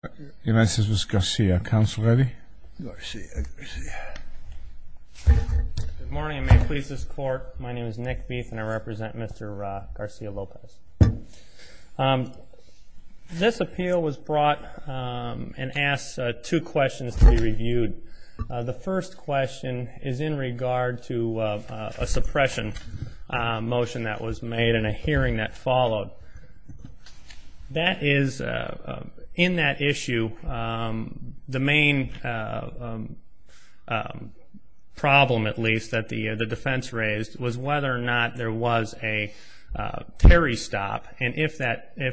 Good morning and may it please this court, my name is Nick Beef and I represent Mr. Garcia-Lopez. This appeal was brought and asked two questions to be reviewed. The first question is in regard to a suppression motion that was made and a hearing that followed. In that issue, the main problem at least that the defense raised was whether or not there was a Terry stop and if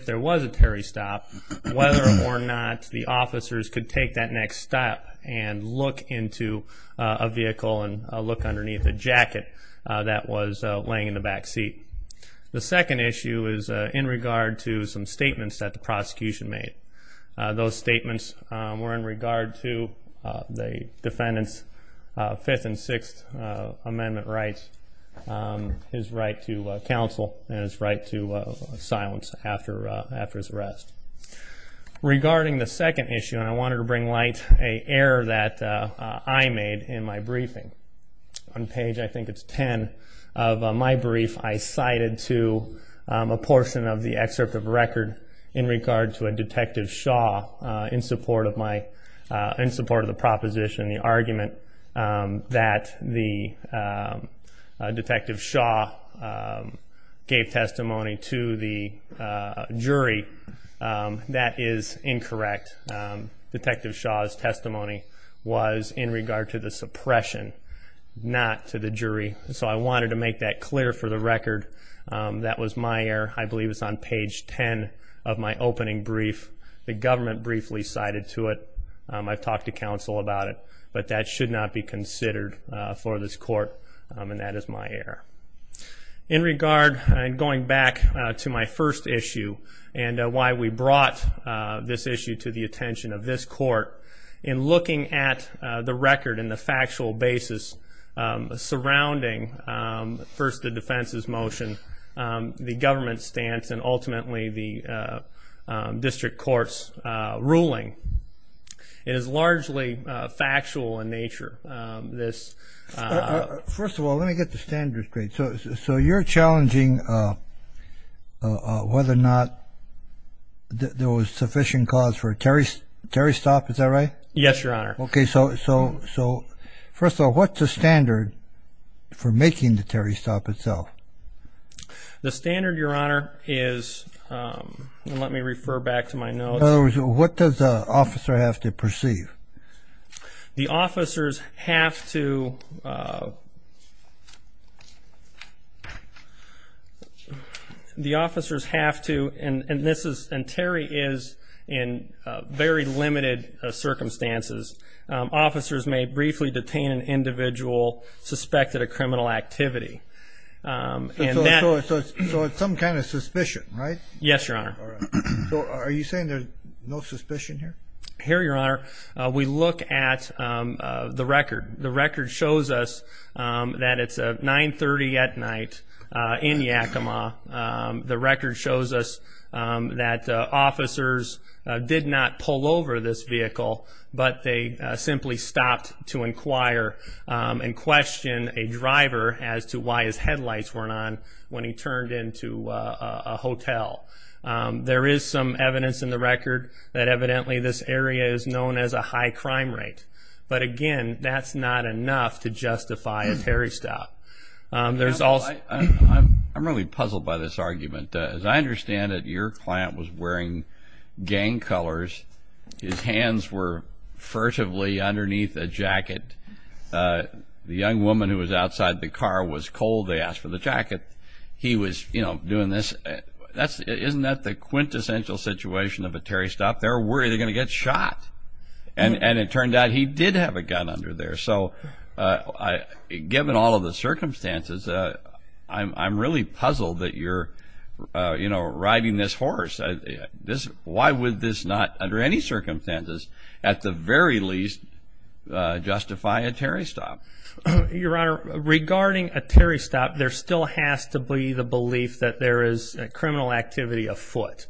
there was a Terry stop, whether or not the officers could take that next step and look into a vehicle and look underneath a jacket that was laying in the back seat. The second issue is in regard to some statements that the prosecution made. Those statements were in regard to the defendant's 5th and 6th amendment rights, his right to counsel and his right to silence after his arrest. Regarding the second issue, I wanted to bring light to an error that I made in my briefing. On page I think it's 10 of my brief, I cited to a portion of the excerpt of record in regard to a Detective Shaw in support of the proposition, the argument that the Detective Shaw gave testimony to the jury, that is incorrect. Detective Shaw's testimony was in regard to the suppression, not to the jury. So I wanted to make that clear for the record. That was my error. I believe it's on page 10 of my opening brief. The government briefly cited to it. I've talked to counsel about it, but that should not be considered for this court and that is my error. In regard, and going back to my first issue and why we brought this issue to the attention of this court, in looking at the record and the factual basis surrounding first the defense's motion, the government stance and ultimately the district court's ruling, it is largely factual in nature. First of all, let me get the standard straight. So you're challenging whether or not there was sufficient cause for a Terry stop, is that right? Yes, Your Honor. Okay, so first of all, what's the standard for making the Terry stop itself? The standard, Your Honor, is, let me refer back to my notes. In other words, what does the officer have to perceive? The officers have to, and Terry is in very limited circumstances, officers may briefly detain an individual suspected of criminal activity. So it's some kind of suspicion, right? Yes, Your Honor. So are you saying there's no suspicion here? Here, Your Honor, we look at the record. The record shows us that it's 9.30 at night in Yakima. The record shows us that officers did not pull over this vehicle, but they simply stopped to inquire and question a driver as to why his headlights weren't on when he turned into a hotel. There is some evidence in the record that evidently this area is known as a high crime rate. But again, that's not enough to justify a Terry stop. I'm really puzzled by this argument. As I understand it, your client was wearing gang colors. His hands were furtively underneath a jacket. The young woman who was outside the car was cold. They asked for the jacket. He was, you know, doing this. Isn't that the quintessential situation of a Terry stop? They're worried they're going to get shot. And it turned out he did have a gun under there. So given all of the circumstances, I'm really puzzled that you're, you know, riding this horse. Why would this not, under any circumstances, at the very least, justify a Terry stop? Your Honor, regarding a Terry stop, there still has to be the belief that there is criminal activity afoot.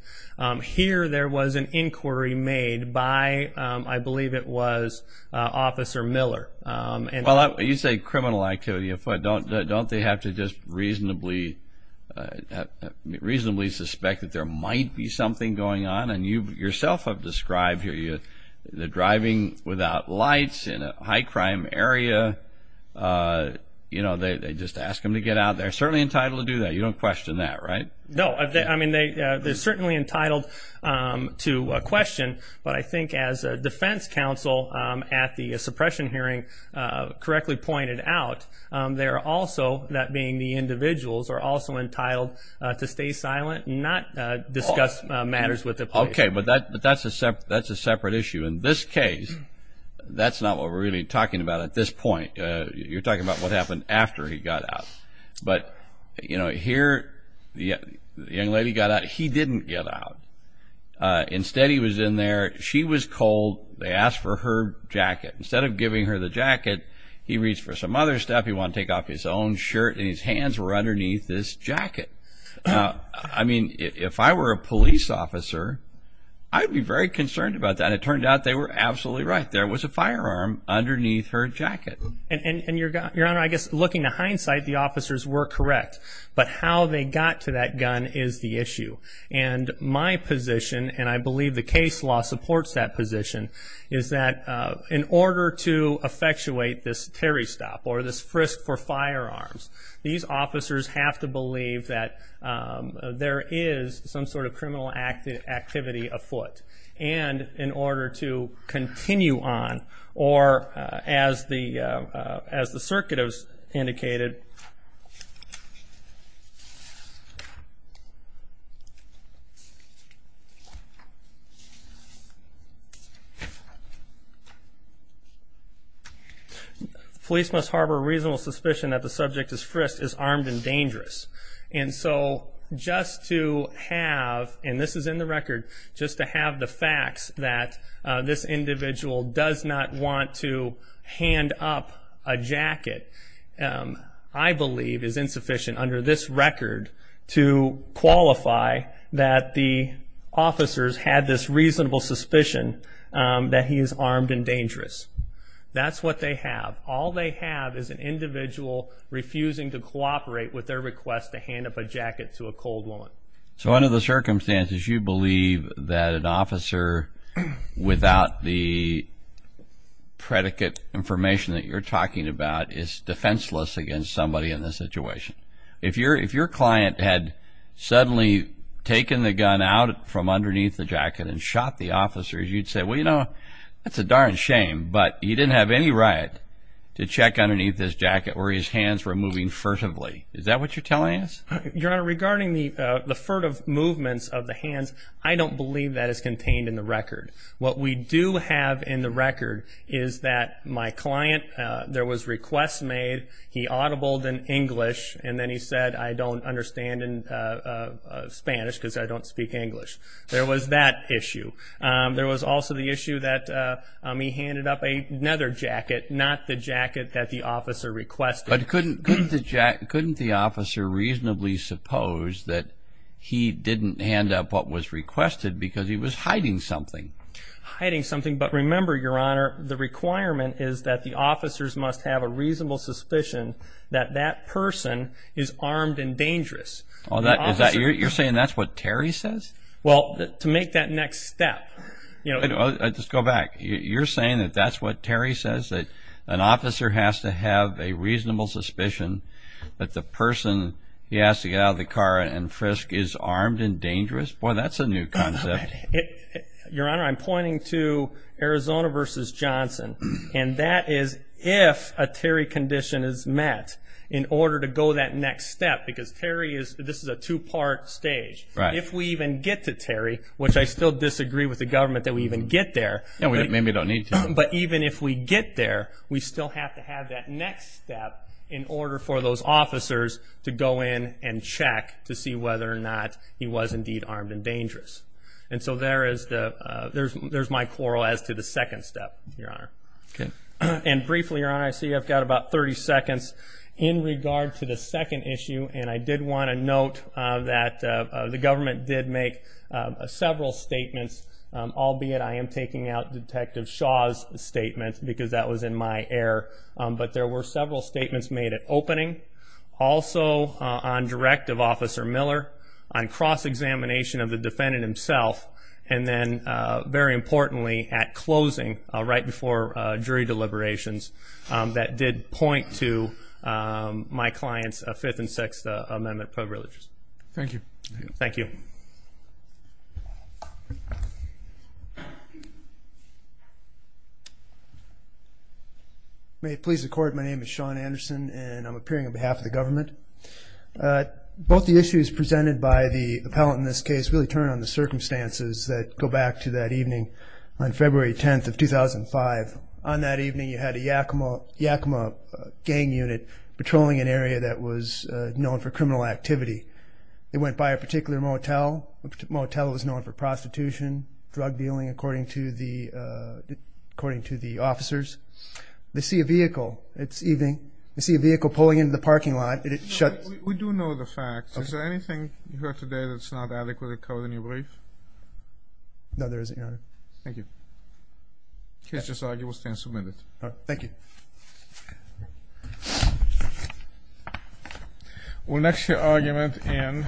Here there was an inquiry made by, I believe it was Officer Miller. Well, you say criminal activity afoot. Don't they have to just reasonably suspect that there might be something going on? You yourself have described here the driving without lights in a high-crime area. You know, they just ask him to get out. They're certainly entitled to do that. You don't question that, right? No, I mean, they're certainly entitled to question. But I think as a defense counsel at the suppression hearing correctly pointed out, they're also, that being the individuals, are also entitled to stay silent and not discuss matters with the patient. Okay, but that's a separate issue. In this case, that's not what we're really talking about at this point. You're talking about what happened after he got out. But, you know, here the young lady got out. He didn't get out. Instead, he was in there. She was cold. They asked for her jacket. Instead of giving her the jacket, he reached for some other stuff. He wanted to take off his own shirt, and his hands were underneath this jacket. I mean, if I were a police officer, I'd be very concerned about that. It turned out they were absolutely right. There was a firearm underneath her jacket. And, Your Honor, I guess looking to hindsight, the officers were correct. But how they got to that gun is the issue. And my position, and I believe the case law supports that position, is that in order to effectuate this Terry Stop or this frisk for firearms, these officers have to believe that there is some sort of criminal activity afoot. And in order to continue on, or as the circuit has indicated, police must harbor a reasonable suspicion that the subject is frisked, is armed, and dangerous. And so just to have, and this is in the record, just to have the facts that this individual does not want to hand up a jacket I believe is insufficient under this record to qualify that the officers had this reasonable suspicion that he is armed and dangerous. That's what they have. All they have is an individual refusing to cooperate with their request to hand up a jacket to a cold woman. So under the circumstances, you believe that an officer without the predicate information that you're talking about is defenseless against somebody in this situation. If your client had suddenly taken the gun out from underneath the jacket and shot the officers, you'd say, well, you know, that's a darn shame. But he didn't have any right to check underneath this jacket where his hands were moving furtively. Is that what you're telling us? Your Honor, regarding the furtive movements of the hands, I don't believe that is contained in the record. What we do have in the record is that my client, there was requests made, he audibled in English, and then he said, I don't understand in Spanish because I don't speak English. There was that issue. There was also the issue that he handed up another jacket, not the jacket that the officer requested. But couldn't the officer reasonably suppose that he didn't hand up what was requested because he was hiding something? Hiding something, but remember, Your Honor, the requirement is that the officers must have a reasonable suspicion that that person is armed and dangerous. You're saying that's what Terry says? Well, to make that next step. Just go back. You're saying that that's what Terry says, that an officer has to have a reasonable suspicion that the person he asks to get out of the car and frisk is armed and dangerous? Boy, that's a new concept. Your Honor, I'm pointing to Arizona v. Johnson, and that is if a Terry condition is met in order to go that next step, because this is a two-part stage. If we even get to Terry, which I still disagree with the government that we even get there, but even if we get there, we still have to have that next step in order for those officers to go in and check to see whether or not he was indeed armed and dangerous. And so there is my quarrel as to the second step, Your Honor. And briefly, Your Honor, I see I've got about 30 seconds in regard to the second issue, and I did want to note that the government did make several statements, albeit I am taking out Detective Shaw's statement because that was in my air, but there were several statements made at opening, also on direct of Officer Miller, on cross-examination of the defendant himself, and then very importantly at closing right before jury deliberations that did point to my client's Fifth and Sixth Amendment privileges. Thank you. Thank you. May it please the Court, my name is Shawn Anderson and I'm appearing on behalf of the government. Both the issues presented by the appellant in this case really turn on the circumstances that go back to that evening on February 10th of 2005. On that evening, you had a Yakima gang unit patrolling an area that was known for criminal activity. They went by a particular motel. The motel was known for prostitution, drug dealing, according to the officers. They see a vehicle. It's evening. They see a vehicle pulling into the parking lot. We do know the facts. Is there anything you heard today that's not adequately covered in your brief? No, there isn't, Your Honor. Thank you. The case is argued. We'll stand and submit it. Thank you. We'll next hear argument in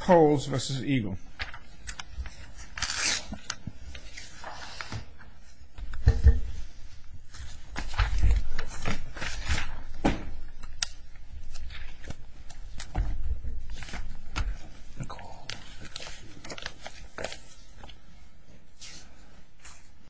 Coles v. Eagle.